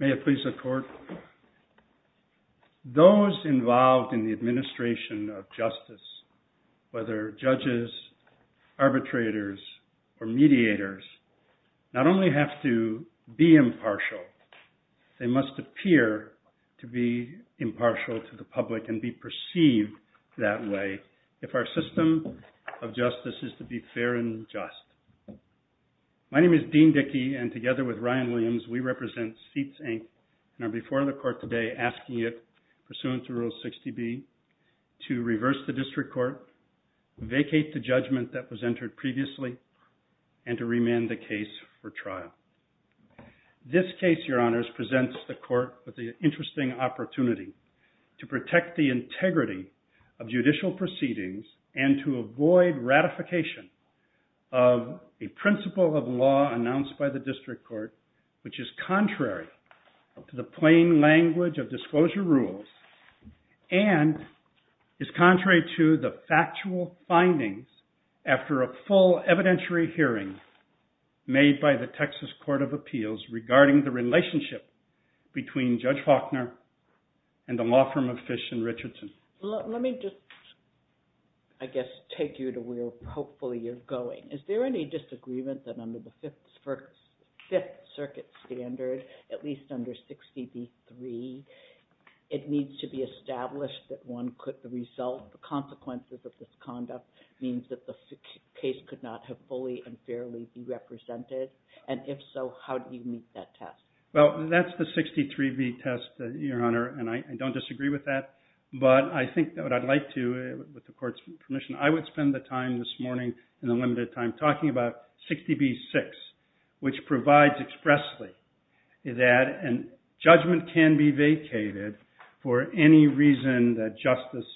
May it please the court, those involved in the administration of justice, whether judges, arbitrators, or mediators, not only have to be impartial, they must appear to be impartial to the public and be perceived that way if our system of justice is to be fair and just. My name is Dean Dickey, and together with Ryan Williams, we represent Seats, Inc., and are before the court today asking it, to reverse the district court, vacate the judgment that was entered previously, and to remand the case for trial. This case, your honors, presents the court with the interesting opportunity to protect the integrity of judicial proceedings and to avoid ratification of a principle of law announced by the district court, which is contrary to the plain language of disclosure rules and is contrary to the factual findings after a full evidentiary hearing made by the Texas Court of Appeals regarding the relationship between Judge Faulkner and the law firm of Fish and Richardson. Let me just, I guess, take you to where hopefully you're going. Is there any disagreement that under the Fifth Circuit standard, at least under 60 v. 3, it needs to be established that the consequences of this conduct means that the case could not have fully and fairly been represented? And if so, how do you meet that test? Well, that's the 60 v. 3 test, your honor, and I don't disagree with that, but I think that what I'd like to, with the court's permission, I would spend the time this morning in the limited time talking about 60 v. 6, which provides expressly that judgment can be vacated for any reason that justice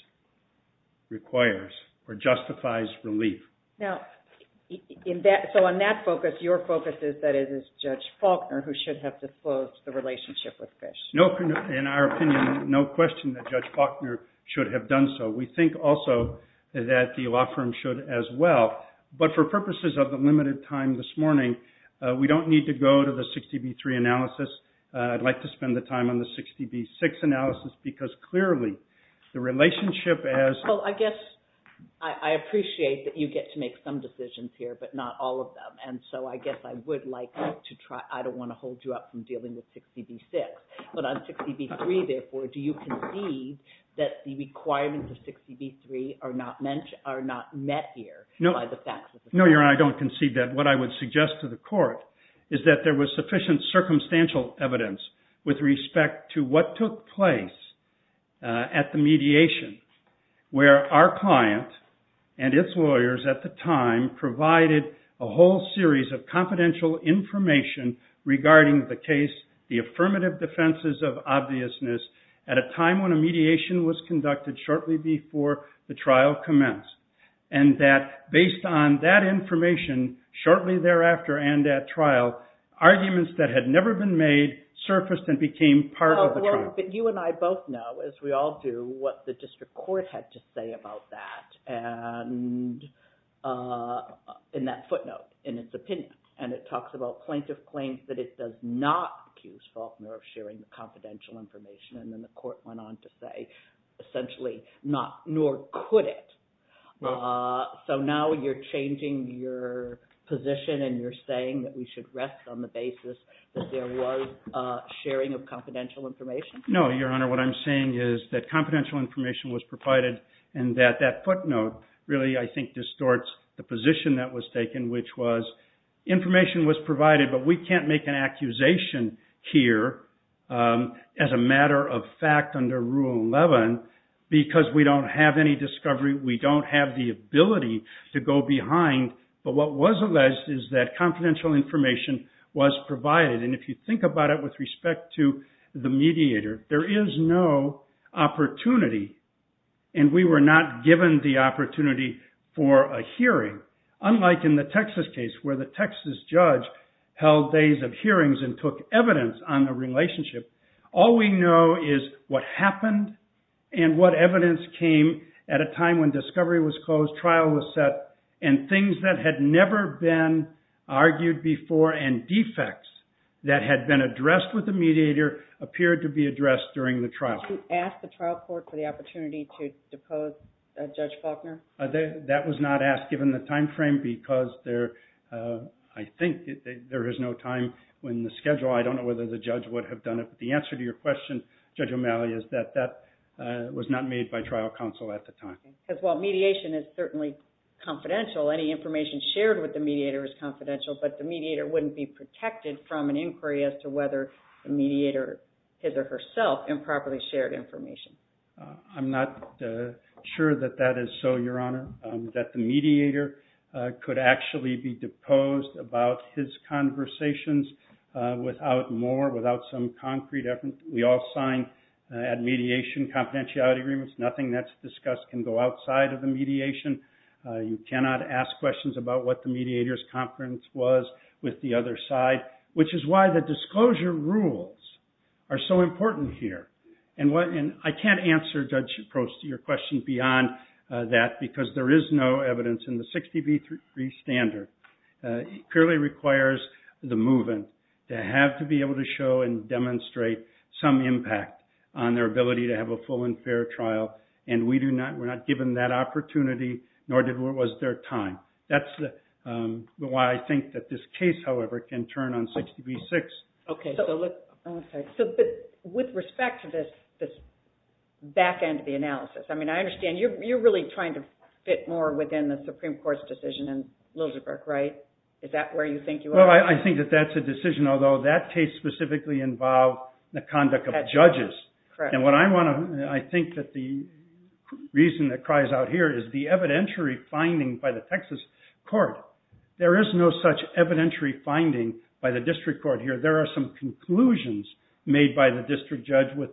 requires or justifies relief. Now, so on that focus, your focus is that it is Judge Faulkner who should have disclosed the relationship with Fish. In our opinion, no question that Judge Faulkner should have done so. We think also that the law firm should as well, but for purposes of the limited time this morning, we don't need to go to the 60 v. 3 analysis. I'd like to spend the time on the 60 v. 6 analysis because clearly the relationship as— Well, I guess I appreciate that you get to make some decisions here, but not all of them, and so I guess I would like to try—I don't want to hold you up from dealing with 60 v. 6, but on 60 v. 3, therefore, do you concede that the requirements of 60 v. 3 are not met here by the facts of the case? No, your honor, I don't concede that. What I would suggest to the court is that there was sufficient circumstantial evidence with respect to what took place at the mediation where our client and its lawyers at the time provided a whole series of confidential information regarding the case, the affirmative defenses of obviousness, at a time when a mediation was conducted shortly before the trial commenced, and that based on that information shortly thereafter and at trial, arguments that had never been made surfaced and became part of the trial. But you and I both know, as we all do, what the district court had to say about that in that footnote, in its opinion, and it talks about plaintiff claims that it does not accuse Faulkner of sharing confidential information, and then the court went on to say, essentially, nor could it. So now you're changing your position and you're saying that we should rest on the basis that there was sharing of confidential information? No, your honor. What I'm saying is that confidential information was provided and that that footnote really, I think, distorts the position that was taken, which was information was provided, but we can't make an accusation here as a matter of fact under Rule 11 because we don't have any discovery. We don't have the ability to go behind. But what was alleged is that confidential information was provided. And if you think about it with respect to the mediator, there is no opportunity, and we were not given the opportunity for a hearing, unlike in the Texas case where the Texas judge held days of hearings and took evidence on the relationship. All we know is what happened and what evidence came at a time when discovery was closed, trial was set, and things that had never been argued before and defects that had been addressed with the mediator appeared to be addressed during the trial. Did you ask the trial court for the opportunity to depose Judge Faulkner? That was not asked given the time frame because I think there is no time in the schedule. I don't know whether the judge would have done it, but the answer to your question, Judge O'Malley, is that that was not made by trial counsel at the time. Because while mediation is certainly confidential, any information shared with the mediator is confidential, but the mediator wouldn't be protected from an inquiry as to whether the mediator, his or herself, improperly shared information. I'm not sure that that is so, Your Honor, that the mediator could actually be deposed about his conversations without more, without some concrete evidence. We all signed at mediation confidentiality agreements. Nothing that's discussed can go outside of the mediation. You cannot ask questions about what the mediator's confidence was with the other side, which is why the disclosure rules are so important here. And I can't answer, Judge Shaprost, your question beyond that because there is no evidence in the 60B3 standard. It purely requires the move-in to have to be able to show and demonstrate some impact on their ability to have a full and fair trial, and we do not, we're not given that opportunity, nor was there time. That's why I think that this case, however, can turn on 60B6. Okay, so with respect to this back end of the analysis, I mean, I understand you're really trying to fit more within the Supreme Court's decision in Liljeburg, right? Is that where you think you are? Well, I think that that's a decision, although that case specifically involved the conduct of judges. And what I want to, I think that the reason that cries out here is the evidentiary finding by the Texas court. There is no such evidentiary finding by the district court here. There are some conclusions made by the district judge with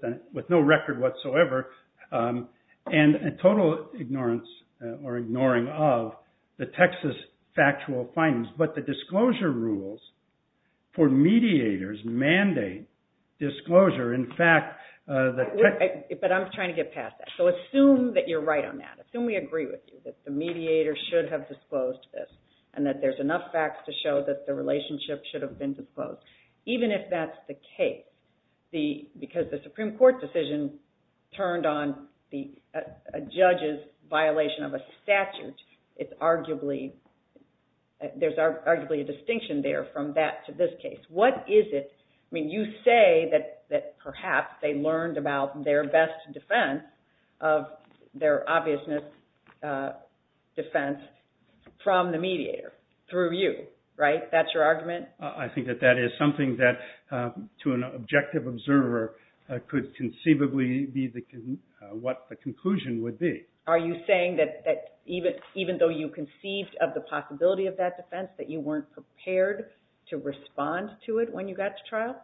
no record whatsoever, and a total ignorance or ignoring of the Texas factual findings. But the disclosure rules for mediators mandate disclosure. In fact, the- But I'm trying to get past that. So assume that you're right on that. Assume we agree with you, that the mediator should have disclosed this, and that there's enough facts to show that the relationship should have been disclosed. Even if that's the case, because the Supreme Court decision turned on a judge's violation of a statute, it's arguably, there's arguably a distinction there from that to this case. What is it, I mean, you say that perhaps they learned about their best defense of their obviousness defense from the mediator through you, right? That's your argument? I think that that is something that, to an objective observer, could conceivably be what the conclusion would be. Are you saying that even though you conceived of the possibility of that defense, that you weren't prepared to respond to it when you got to trial?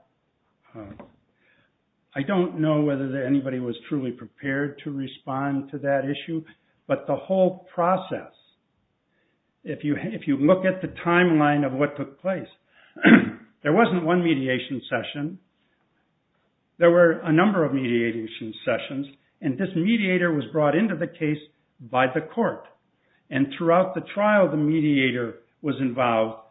I don't know whether anybody was truly prepared to respond to that issue, but the whole process, if you look at the timeline of what took place, there wasn't one mediation session. There were a number of mediation sessions, and this mediator was brought into the case by the court. And throughout the trial, the mediator was involved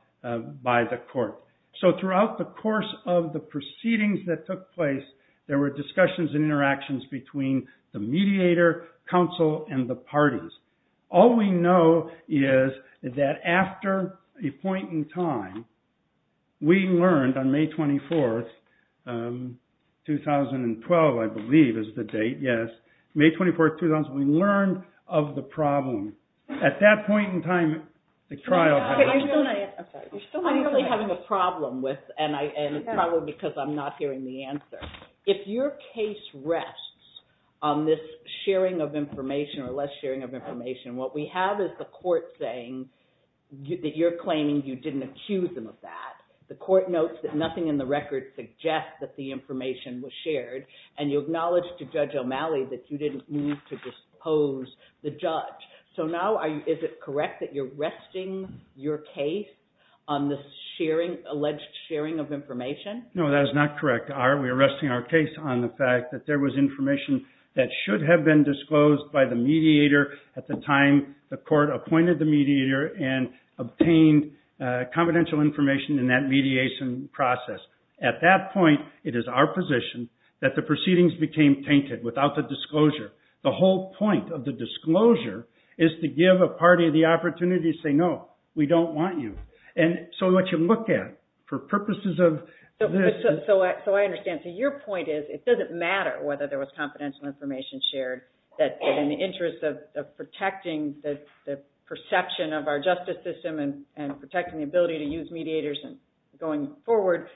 by the court. So throughout the course of the proceedings that took place, there were discussions and interactions between the mediator, counsel, and the parties. All we know is that after a point in time, we learned on May 24, 2012, I believe is the date, yes. May 24, 2012, we learned of the problem. At that point in time, the trial had begun. I'm really having a problem with, and it's probably because I'm not hearing the answer. If your case rests on this sharing of information or less sharing of information, what we have is the court saying that you're claiming you didn't accuse them of that. The court notes that nothing in the record suggests that the information was shared, and you acknowledge to Judge O'Malley that you didn't mean to dispose the judge. So now is it correct that you're resting your case on this alleged sharing of information? No, that is not correct. We are resting our case on the fact that there was information that should have been disclosed by the mediator at the time the court appointed the mediator and obtained confidential information in that mediation process. At that point, it is our position that the proceedings became tainted without the disclosure. The whole point of the disclosure is to give a party the opportunity to say, no, we don't want you. So what you look at, for purposes of this... So I understand. So your point is it doesn't matter whether there was confidential information shared, that in the interest of protecting the perception of our justice system and protecting the ability to use mediators going forward,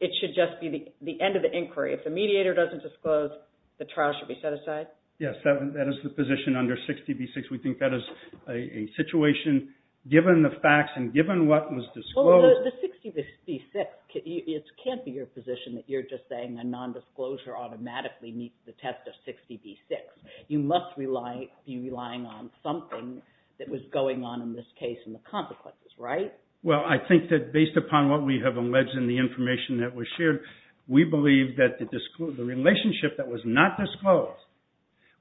it should just be the end of the inquiry. If the mediator doesn't disclose, the trial should be set aside? Yes, that is the position under 60B6. We think that is a situation, given the facts and given what was disclosed... The 60B6, it can't be your position that you're just saying a nondisclosure automatically meets the test of 60B6. You must be relying on something that was going on in this case and the consequences, right? Well, I think that based upon what we have alleged in the information that was shared, we believe that the relationship that was not disclosed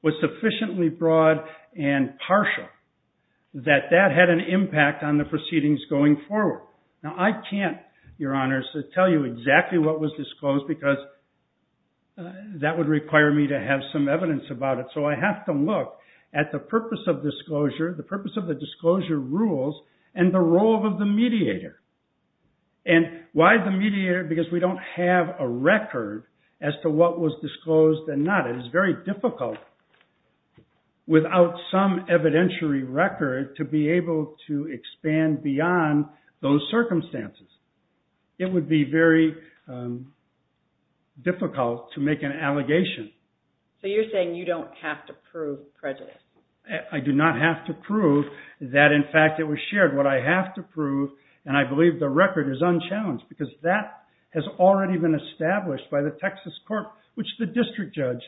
was sufficiently broad and partial that that had an impact on the proceedings going forward. Now, I can't, Your Honors, tell you exactly what was disclosed because that would require me to have some evidence about it. So I have to look at the purpose of disclosure, the purpose of the disclosure rules, and the role of the mediator. And why the mediator? Because we don't have a record as to what was disclosed and not. It is very difficult without some evidentiary record to be able to expand beyond those circumstances. It would be very difficult to make an allegation. So you're saying you don't have to prove prejudice? I do not have to prove that, in fact, it was shared. What I have to prove, and I believe the record is unchallenged, because that has already been established by the Texas court, which the district judge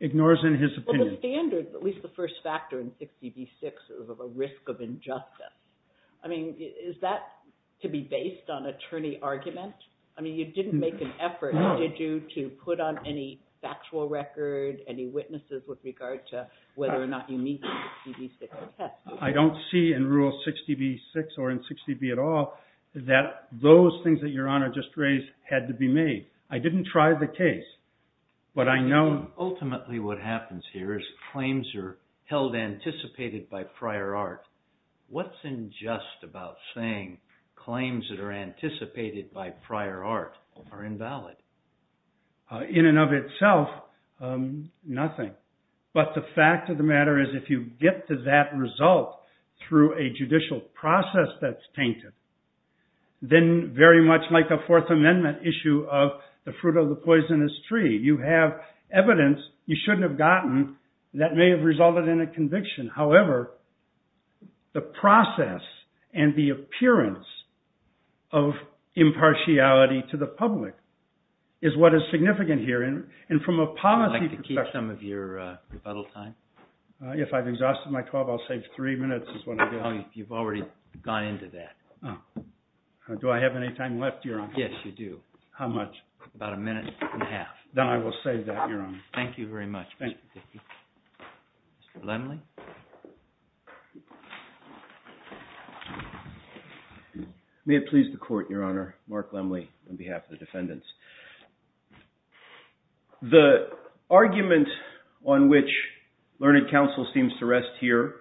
ignores in his opinion. Well, the standard, at least the first factor in 6db6, is of a risk of injustice. I mean, is that to be based on attorney argument? I mean, you didn't make an effort, did you, to put on any factual record, any witnesses with regard to whether or not you meet the 6db6 test? I don't see in Rule 6db6 or in 6db at all that those things that Your Honor just raised had to be made. I didn't try the case, but I know... Ultimately what happens here is claims are held anticipated by prior art. What's unjust about saying claims that are anticipated by prior art are invalid? In and of itself, nothing. But the fact of the matter is, if you get to that result through a judicial process that's tainted, then very much like a Fourth Amendment issue of the fruit of the poisonous tree, you have evidence you shouldn't have gotten that may have resulted in a conviction. However, the process and the appearance of impartiality to the public is what is significant here. Would you like to keep some of your rebuttal time? If I've exhausted my 12, I'll save three minutes is what I'll do. Oh, you've already gone into that. Do I have any time left, Your Honor? Yes, you do. How much? About a minute and a half. Then I will save that, Your Honor. Thank you very much, Mr. Dickey. Mr. Lemley? May it please the Court, Your Honor. Mark Lemley on behalf of the defendants. The argument on which Learned Counsel seems to rest here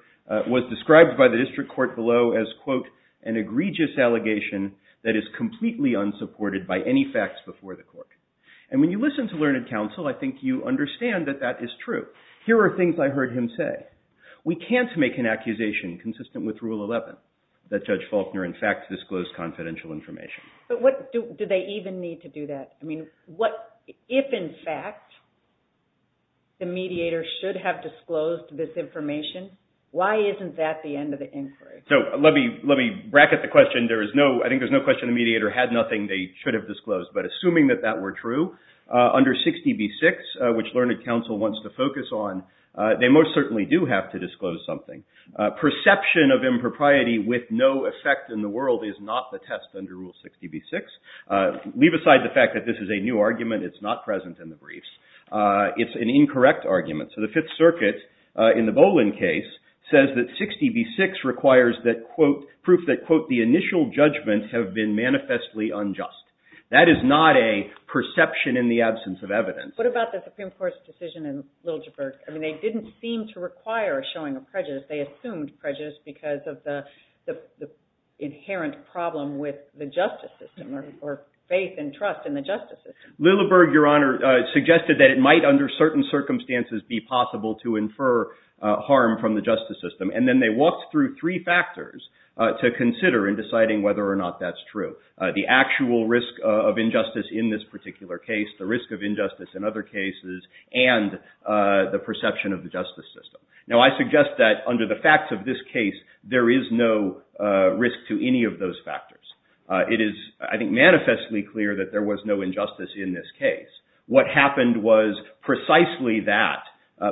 was described by the district court below as, quote, an egregious allegation that is completely unsupported by any facts before the court. And when you listen to Learned Counsel, I think you understand that that is true. Here are things I heard him say. We can't make an accusation consistent with Rule 11 that Judge Faulkner, in fact, disclosed confidential information. But do they even need to do that? I mean, if, in fact, the mediator should have disclosed this information, why isn't that the end of the inquiry? So let me bracket the question. I think there's no question the mediator had nothing they should have disclosed. But assuming that that were true, under 60B-6, which Learned Counsel wants to focus on, they most certainly do have to disclose something. Perception of impropriety with no effect in the world is not the test under Rule 60B-6. Leave aside the fact that this is a new argument. It's not present in the briefs. It's an incorrect argument. So the Fifth Circuit, in the Bolin case, says that 60B-6 requires that, quote, proof that, quote, the initial judgments have been manifestly unjust. That is not a perception in the absence of evidence. What about the Supreme Court's decision in Liljeburg? I mean, they didn't seem to require showing a prejudice. They assumed prejudice because of the inherent problem with the justice system or faith and trust in the justice system. Liljeburg, Your Honor, suggested that it might, under certain circumstances, be possible to infer harm from the justice system. And then they walked through three factors to consider in deciding whether or not that's true. The actual risk of injustice in this particular case, the risk of injustice in other cases, and the perception of the justice system. Now, I suggest that under the facts of this case, there is no risk to any of those factors. It is, I think, manifestly clear that there was no injustice in this case. What happened was precisely that.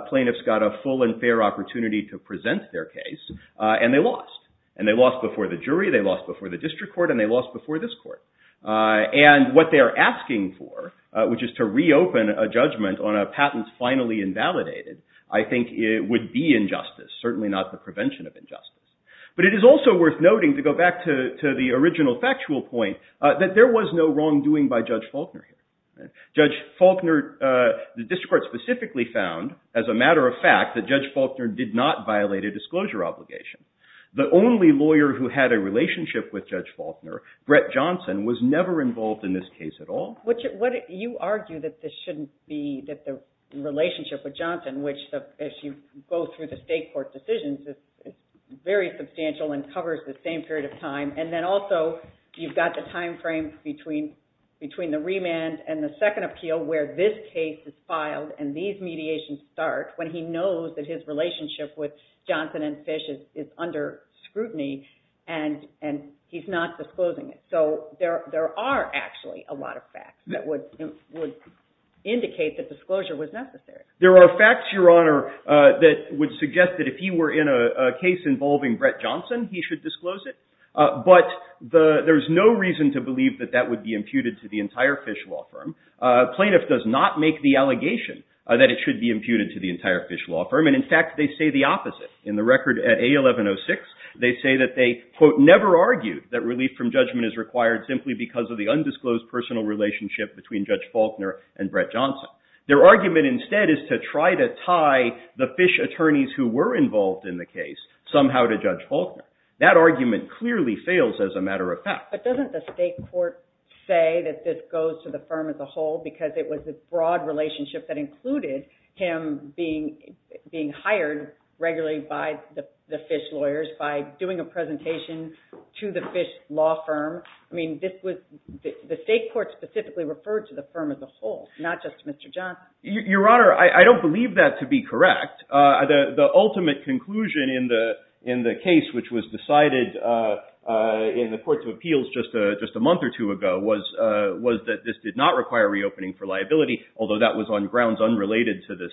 Plaintiffs got a full and fair opportunity to present their case, and they lost. And they lost before the jury, they lost before the district court, and they lost before this court. And what they are asking for, which is to reopen a judgment on a patent finally invalidated, I think it would be injustice, certainly not the prevention of injustice. But it is also worth noting, to go back to the original factual point, that there was no wrongdoing by Judge Faulkner. Judge Faulkner, the district court specifically found, as a matter of fact, that Judge Faulkner did not violate a disclosure obligation. The only lawyer who had a relationship with Judge Faulkner, Brett Johnson, was never involved in this case at all. You argue that this shouldn't be, that the relationship with Johnson, which, as you go through the state court decisions, is very substantial and covers the same period of time. And then also, you've got the time frame between the remand and the second appeal, where this case is filed and these mediations start, when he knows that his relationship with Johnson and Fish is under scrutiny, and he's not disclosing it. So there are actually a lot of facts that would indicate that disclosure was necessary. There are facts, Your Honor, that would suggest that if he were in a case involving Brett Johnson, he should disclose it. But there's no reason to believe that that would be imputed to the entire Fish law firm. Plaintiff does not make the allegation that it should be imputed to the entire Fish law firm. And, in fact, they say the opposite. In the record at A1106, they say that they, quote, never argued that relief from judgment is required simply because of the undisclosed personal relationship between Judge Faulkner and Brett Johnson. Their argument instead is to try to tie the Fish attorneys who were involved in the case somehow to Judge Faulkner. That argument clearly fails as a matter of fact. But doesn't the state court say that this goes to the firm as a whole because it was a broad relationship that included him being hired regularly by the Fish lawyers by doing a presentation to the Fish law firm? I mean, the state court specifically referred to the firm as a whole, not just to Mr. Johnson. Your Honor, I don't believe that to be correct. The ultimate conclusion in the case, which was decided in the Court of Appeals just a month or two ago, was that this did not require reopening for liability, although that was on grounds unrelated to this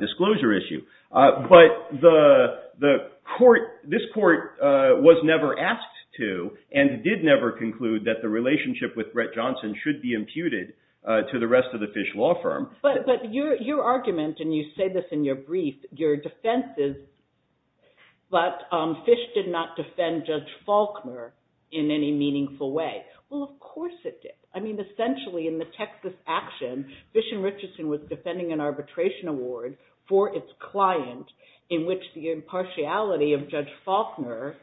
disclosure issue. But this court was never asked to and did never conclude that the relationship with Brett Johnson should be imputed to the rest of the Fish law firm. But your argument, and you say this in your brief, your defense is that Fish did not defend Judge Faulkner in any meaningful way. Well, of course it did. I mean, essentially in the Texas action, Fish and Richardson was defending an arbitration award for its client in which the impartiality of Judge Faulkner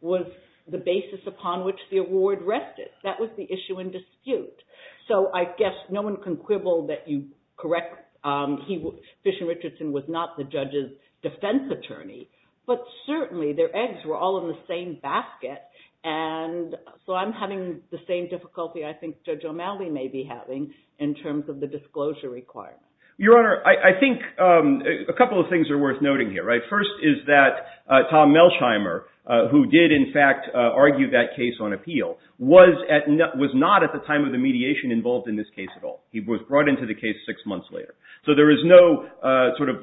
was the basis upon which the award rested. That was the issue in dispute. So I guess no one can quibble that you correct Fish and Richardson was not the judge's defense attorney. But certainly their eggs were all in the same basket. And so I'm having the same difficulty I think Judge O'Malley may be having in terms of the disclosure requirement. Your Honor, I think a couple of things are worth noting here. First is that Tom Melsheimer, who did in fact argue that case on appeal, was not at the time of the mediation involved in this case at all. He was brought into the case six months later. So there is no sort of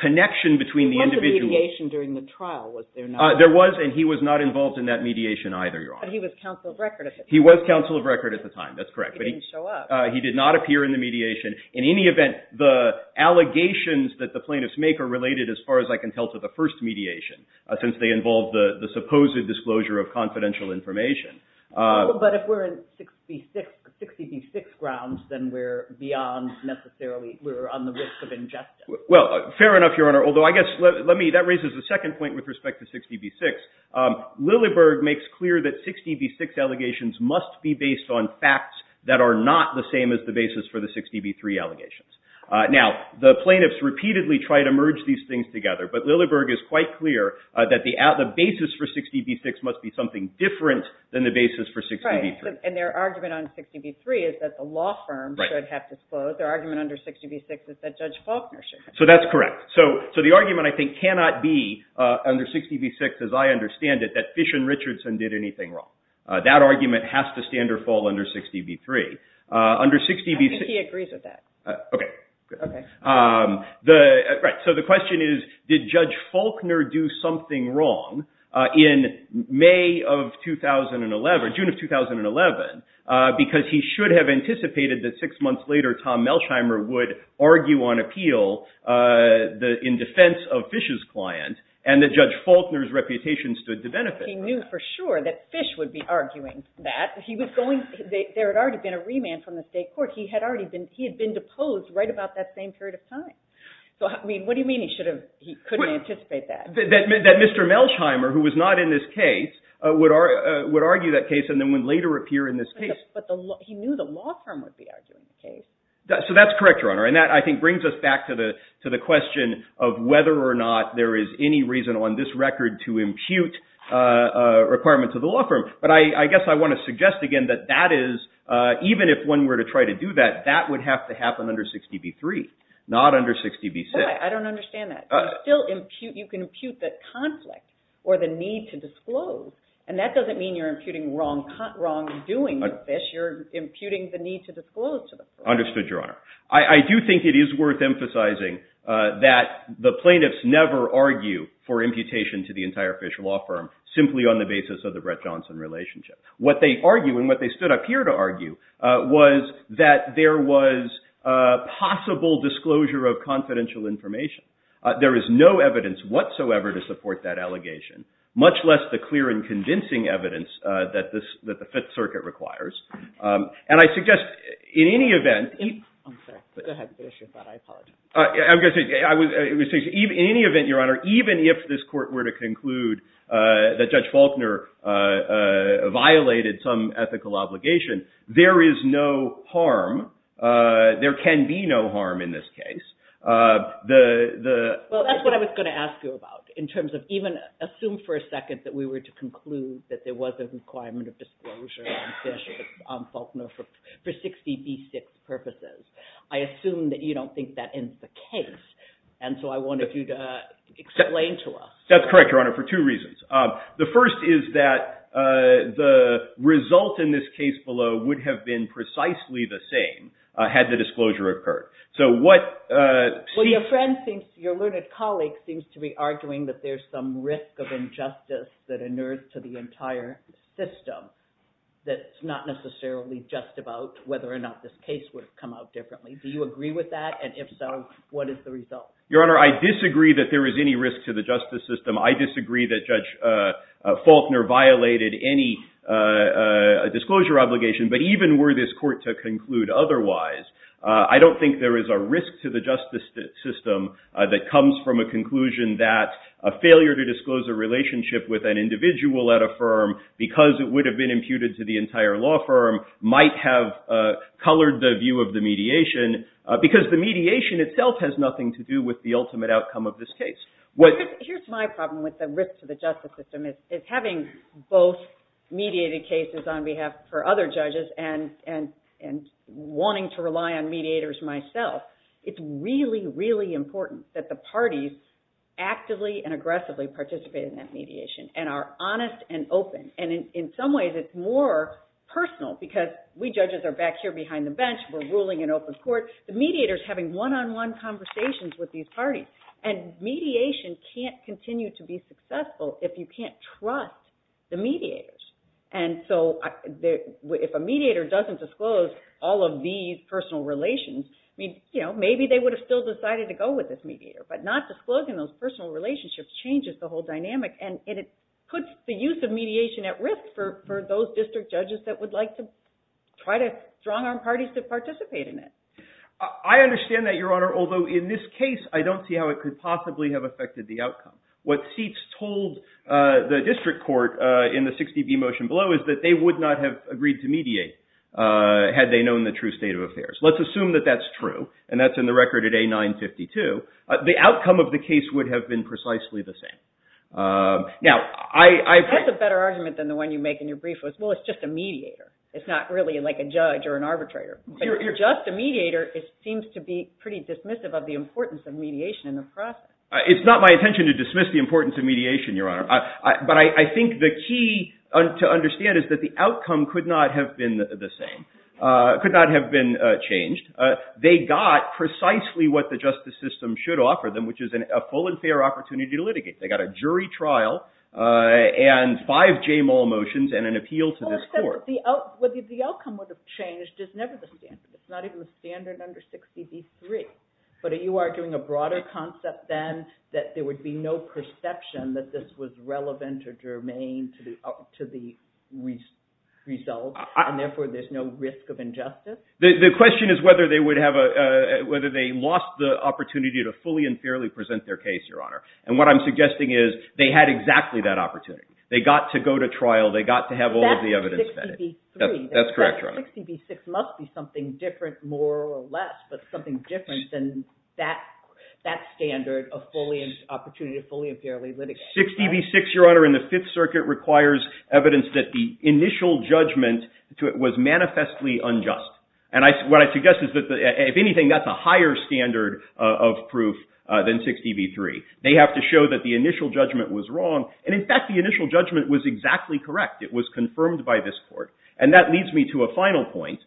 connection between the individual. There was a mediation during the trial, was there not? There was, and he was not involved in that mediation either, Your Honor. But he was counsel of record at the time. He was counsel of record at the time. That's correct. He didn't show up. He did not appear in the mediation. In any event, the allegations that the plaintiffs make are related as far as I can tell to the first mediation since they involve the supposed disclosure of confidential information. But if we're in 60 v. 6 grounds, then we're beyond necessarily, we're on the risk of injustice. Well, fair enough, Your Honor, although I guess let me, that raises a second point with respect to 60 v. 6. Lilleberg makes clear that 60 v. 6 allegations must be based on facts that are not the same as the basis for the 60 v. 3 allegations. Now, the plaintiffs repeatedly try to merge these things together, but Lilleberg is quite clear that the basis for 60 v. 6 must be something different than the basis for 60 v. 3. Right, and their argument on 60 v. 3 is that the law firm should have disclosed. Their argument under 60 v. 6 is that Judge Faulkner should have disclosed. So that's correct. So the argument, I think, cannot be under 60 v. 6, as I understand it, that Fish and Richardson did anything wrong. That argument has to stand or fall under 60 v. 3. I think he agrees with that. Okay. Okay. Right, so the question is, did Judge Faulkner do something wrong in May of 2011, June of 2011, because he should have anticipated that six months later Tom Melsheimer would argue on appeal in defense of Fish's client and that Judge Faulkner's reputation stood to benefit. He knew for sure that Fish would be arguing that. There had already been a remand from the state court. He had been deposed right about that same period of time. So, I mean, what do you mean he couldn't anticipate that? That Mr. Melsheimer, who was not in this case, would argue that case and then would later appear in this case. But he knew the law firm would be arguing the case. So that's correct, Your Honor, and that, I think, brings us back to the question of whether or not there is any reason on this record to impute a requirement to the law firm. But I guess I want to suggest again that that is, even if one were to try to do that, that would have to happen under 60b-3, not under 60b-6. I don't understand that. You can impute the conflict or the need to disclose, and that doesn't mean you're imputing wrongdoing with Fish. You're imputing the need to disclose to the court. Understood, Your Honor. I do think it is worth emphasizing that the plaintiffs never argue for imputation to the entire Fish Law Firm simply on the basis of the Brett Johnson relationship. What they argue and what they stood up here to argue was that there was possible disclosure of confidential information. There is no evidence whatsoever to support that allegation, much less the clear and convincing evidence that the Fifth Circuit requires. And I suggest, in any event — I'm sorry. Go ahead and finish your thought. I apologize. I'm going to say, in any event, Your Honor, even if this court were to conclude that Judge Faulkner violated some ethical obligation, there is no harm, there can be no harm in this case. Well, that's what I was going to ask you about, in terms of even assume for a second that we were to conclude that there was a requirement of disclosure on Fish on Faulkner for 60b-6 purposes. I assume that you don't think that is the case, and so I wanted you to explain to us. That's correct, Your Honor, for two reasons. The first is that the result in this case below would have been precisely the same had the disclosure occurred. Well, your learned colleague seems to be arguing that there's some risk of injustice that inerts to the entire system that's not necessarily just about whether or not this case would have come out differently. Do you agree with that? And if so, what is the result? Your Honor, I disagree that there is any risk to the justice system. I disagree that Judge Faulkner violated any disclosure obligation. But even were this court to conclude otherwise, I don't think there is a risk to the justice system that comes from a conclusion that a failure to disclose a relationship with an individual at a firm, because it would have been imputed to the entire law firm, might have colored the view of the mediation, because the mediation itself has nothing to do with the ultimate outcome of this case. Here's my problem with the risk to the justice system. It's having both mediated cases on behalf for other judges and wanting to rely on mediators myself. It's really, really important that the parties actively and aggressively participate in that mediation and are honest and open. And in some ways, it's more personal because we judges are back here behind the bench. We're ruling an open court. The mediator is having one-on-one conversations with these parties. And mediation can't continue to be successful if you can't trust the mediators. And so if a mediator doesn't disclose all of these personal relations, maybe they would have still decided to go with this mediator. But not disclosing those personal relationships changes the whole dynamic, and it puts the use of mediation at risk for those district judges that would like to try to strong-arm parties to participate in it. I understand that, Your Honor, although in this case, I don't see how it could possibly have affected the outcome. What seats told the district court in the 60B motion below is that they would not have agreed to mediate had they known the true state of affairs. Let's assume that that's true, and that's in the record at A952. The outcome of the case would have been precisely the same. That's a better argument than the one you make in your brief was, well, it's just a mediator. It's not really like a judge or an arbitrator. If you're just a mediator, it seems to be pretty dismissive of the importance of mediation in the process. It's not my intention to dismiss the importance of mediation, Your Honor. But I think the key to understand is that the outcome could not have been the same, could not have been changed. They got precisely what the justice system should offer them, which is a full and fair opportunity to litigate. They got a jury trial and five J. Mull motions and an appeal to this court. The outcome would have changed. It's never the standard. It's not even the standard under 60B-3. But are you arguing a broader concept then that there would be no perception that this was relevant or germane to the result, and therefore there's no risk of injustice? The question is whether they would have a – whether they lost the opportunity to fully and fairly present their case, Your Honor. And what I'm suggesting is they had exactly that opportunity. They got to go to trial. They got to have all of the evidence. That's 60B-3. That's correct, Your Honor. That 60B-6 must be something different more or less, but something different than that standard of fully – opportunity to fully and fairly litigate. 60B-6, Your Honor, in the Fifth Circuit requires evidence that the initial judgment was manifestly unjust. And what I suggest is that if anything, that's a higher standard of proof than 60B-3. They have to show that the initial judgment was wrong. And, in fact, the initial judgment was exactly correct. It was confirmed by this court. And that leads me to a final point,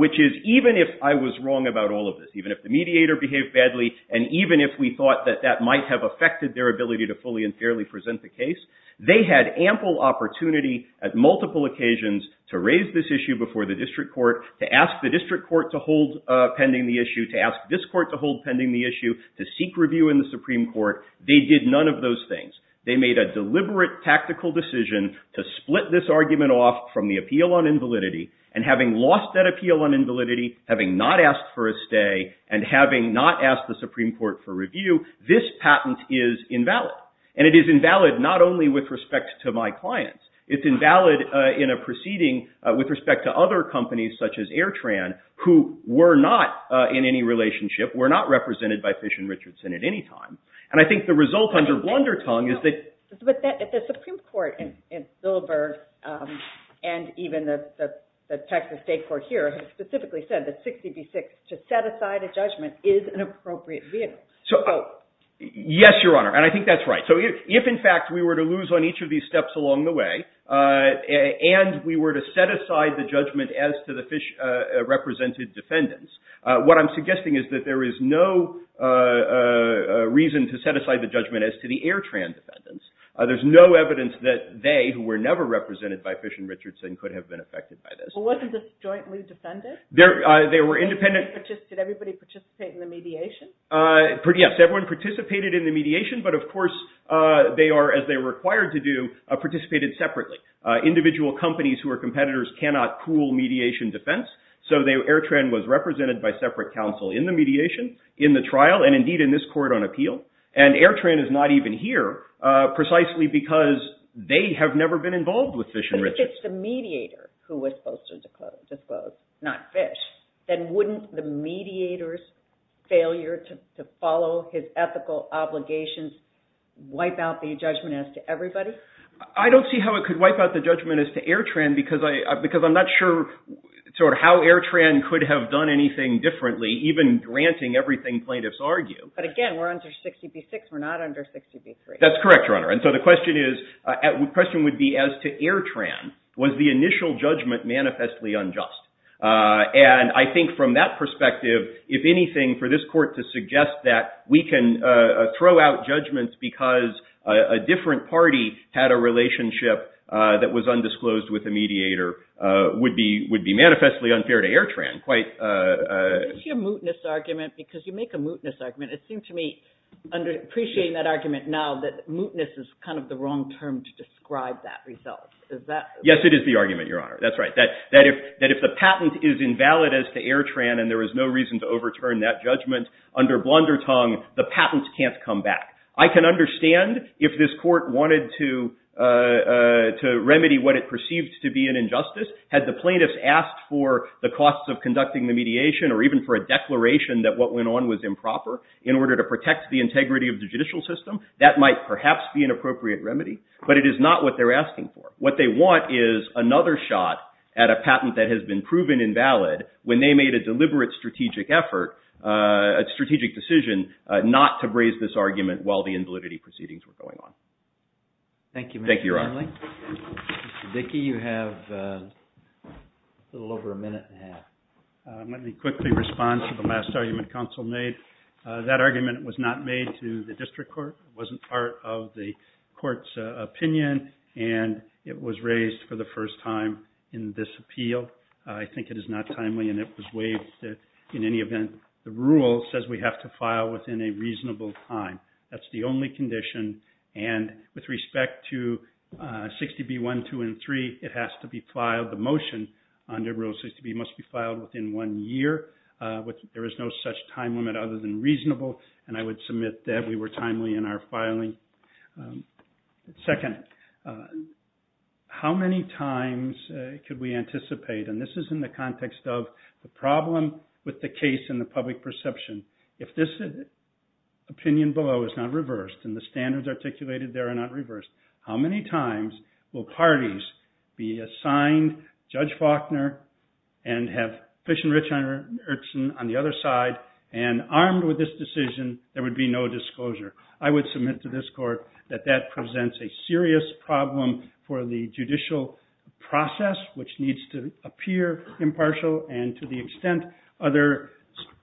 which is even if I was wrong about all of this, even if the mediator behaved badly, and even if we thought that that might have affected their ability to fully and fairly present the case, they had ample opportunity at multiple occasions to raise this issue before the district court, to ask the district court to hold pending the issue, to ask this court to hold pending the issue, to seek review in the Supreme Court. They did none of those things. They made a deliberate tactical decision to split this argument off from the appeal on invalidity. And having lost that appeal on invalidity, having not asked for a stay, and having not asked the Supreme Court for review, this patent is invalid. And it is invalid not only with respect to my clients. It's invalid in a proceeding with respect to other companies, such as Airtran, who were not in any relationship, were not represented by Fish & Richardson at any time. And I think the result under Blundertong is that— But the Supreme Court in Zillberg, and even the Texas State Court here, has specifically said that 60 v. 6, to set aside a judgment, is an appropriate vehicle. Yes, Your Honor, and I think that's right. So if, in fact, we were to lose on each of these steps along the way, and we were to set aside the judgment as to the Fish-represented defendants, what I'm suggesting is that there is no reason to set aside the judgment as to the Airtran defendants. There's no evidence that they, who were never represented by Fish & Richardson, could have been affected by this. Well, wasn't this jointly defended? They were independent— Did everybody participate in the mediation? Yes, everyone participated in the mediation, but of course they are, as they were required to do, participated separately. Individual companies who are competitors cannot pool mediation defense, so Airtran was represented by separate counsel in the mediation, in the trial, and indeed in this court on appeal. And Airtran is not even here, precisely because they have never been involved with Fish & Richardson. If it's the mediator who was supposed to disclose, not Fish, then wouldn't the mediator's failure to follow his ethical obligations wipe out the judgment as to everybody? I don't see how it could wipe out the judgment as to Airtran, because I'm not sure how Airtran could have done anything differently, even granting everything plaintiffs argue. But again, we're under 60 v. 6, we're not under 60 v. 3. That's correct, Your Honor, and so the question would be as to Airtran, was the initial judgment manifestly unjust? And I think from that perspective, if anything, for this court to suggest that we can throw out judgments because a different party had a relationship that was undisclosed with the mediator would be manifestly unfair to Airtran. It's your mootness argument, because you make a mootness argument. It seems to me, appreciating that argument now, that mootness is kind of the wrong term to describe that result. Yes, it is the argument, Your Honor. That's right. That if the patent is invalid as to Airtran and there is no reason to overturn that judgment, under blundertongue, the patent can't come back. I can understand if this court wanted to remedy what it perceived to be an injustice. Had the plaintiffs asked for the costs of conducting the mediation or even for a declaration that what went on was improper in order to protect the integrity of the judicial system, that might perhaps be an appropriate remedy. But it is not what they're asking for. What they want is another shot at a patent that has been proven invalid when they made a deliberate strategic effort, a strategic decision, not to raise this argument while the invalidity proceedings were going on. Thank you, Mr. Hanley. Thank you, Your Honor. Mr. Dickey, you have a little over a minute and a half. Let me quickly respond to the last argument counsel made. That argument was not made to the district court. It wasn't part of the court's opinion. And it was raised for the first time in this appeal. I think it is not timely and it was waived in any event. The rule says we have to file within a reasonable time. That's the only condition. And with respect to 60B1, 2, and 3, it has to be filed, the motion under Rule 60B must be filed within one year. There is no such time limit other than reasonable. And I would submit that we were timely in our filing. Second, how many times could we anticipate, and this is in the context of the problem with the case and the public perception, if this opinion below is not reversed and the standards articulated there are not reversed, how many times will parties be assigned Judge Faulkner and have Fish and Rich on the other side and armed with this decision there would be no disclosure. I would submit to this court that that presents a serious problem for the judicial process, which needs to appear impartial and to the extent others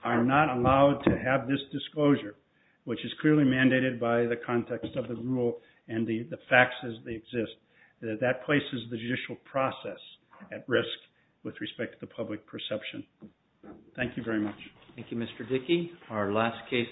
are not allowed to have this disclosure, which is clearly mandated by the context of the rule and the facts as they exist, that that places the judicial process at risk with respect to the public perception. Thank you very much. Thank you, Mr. Dickey.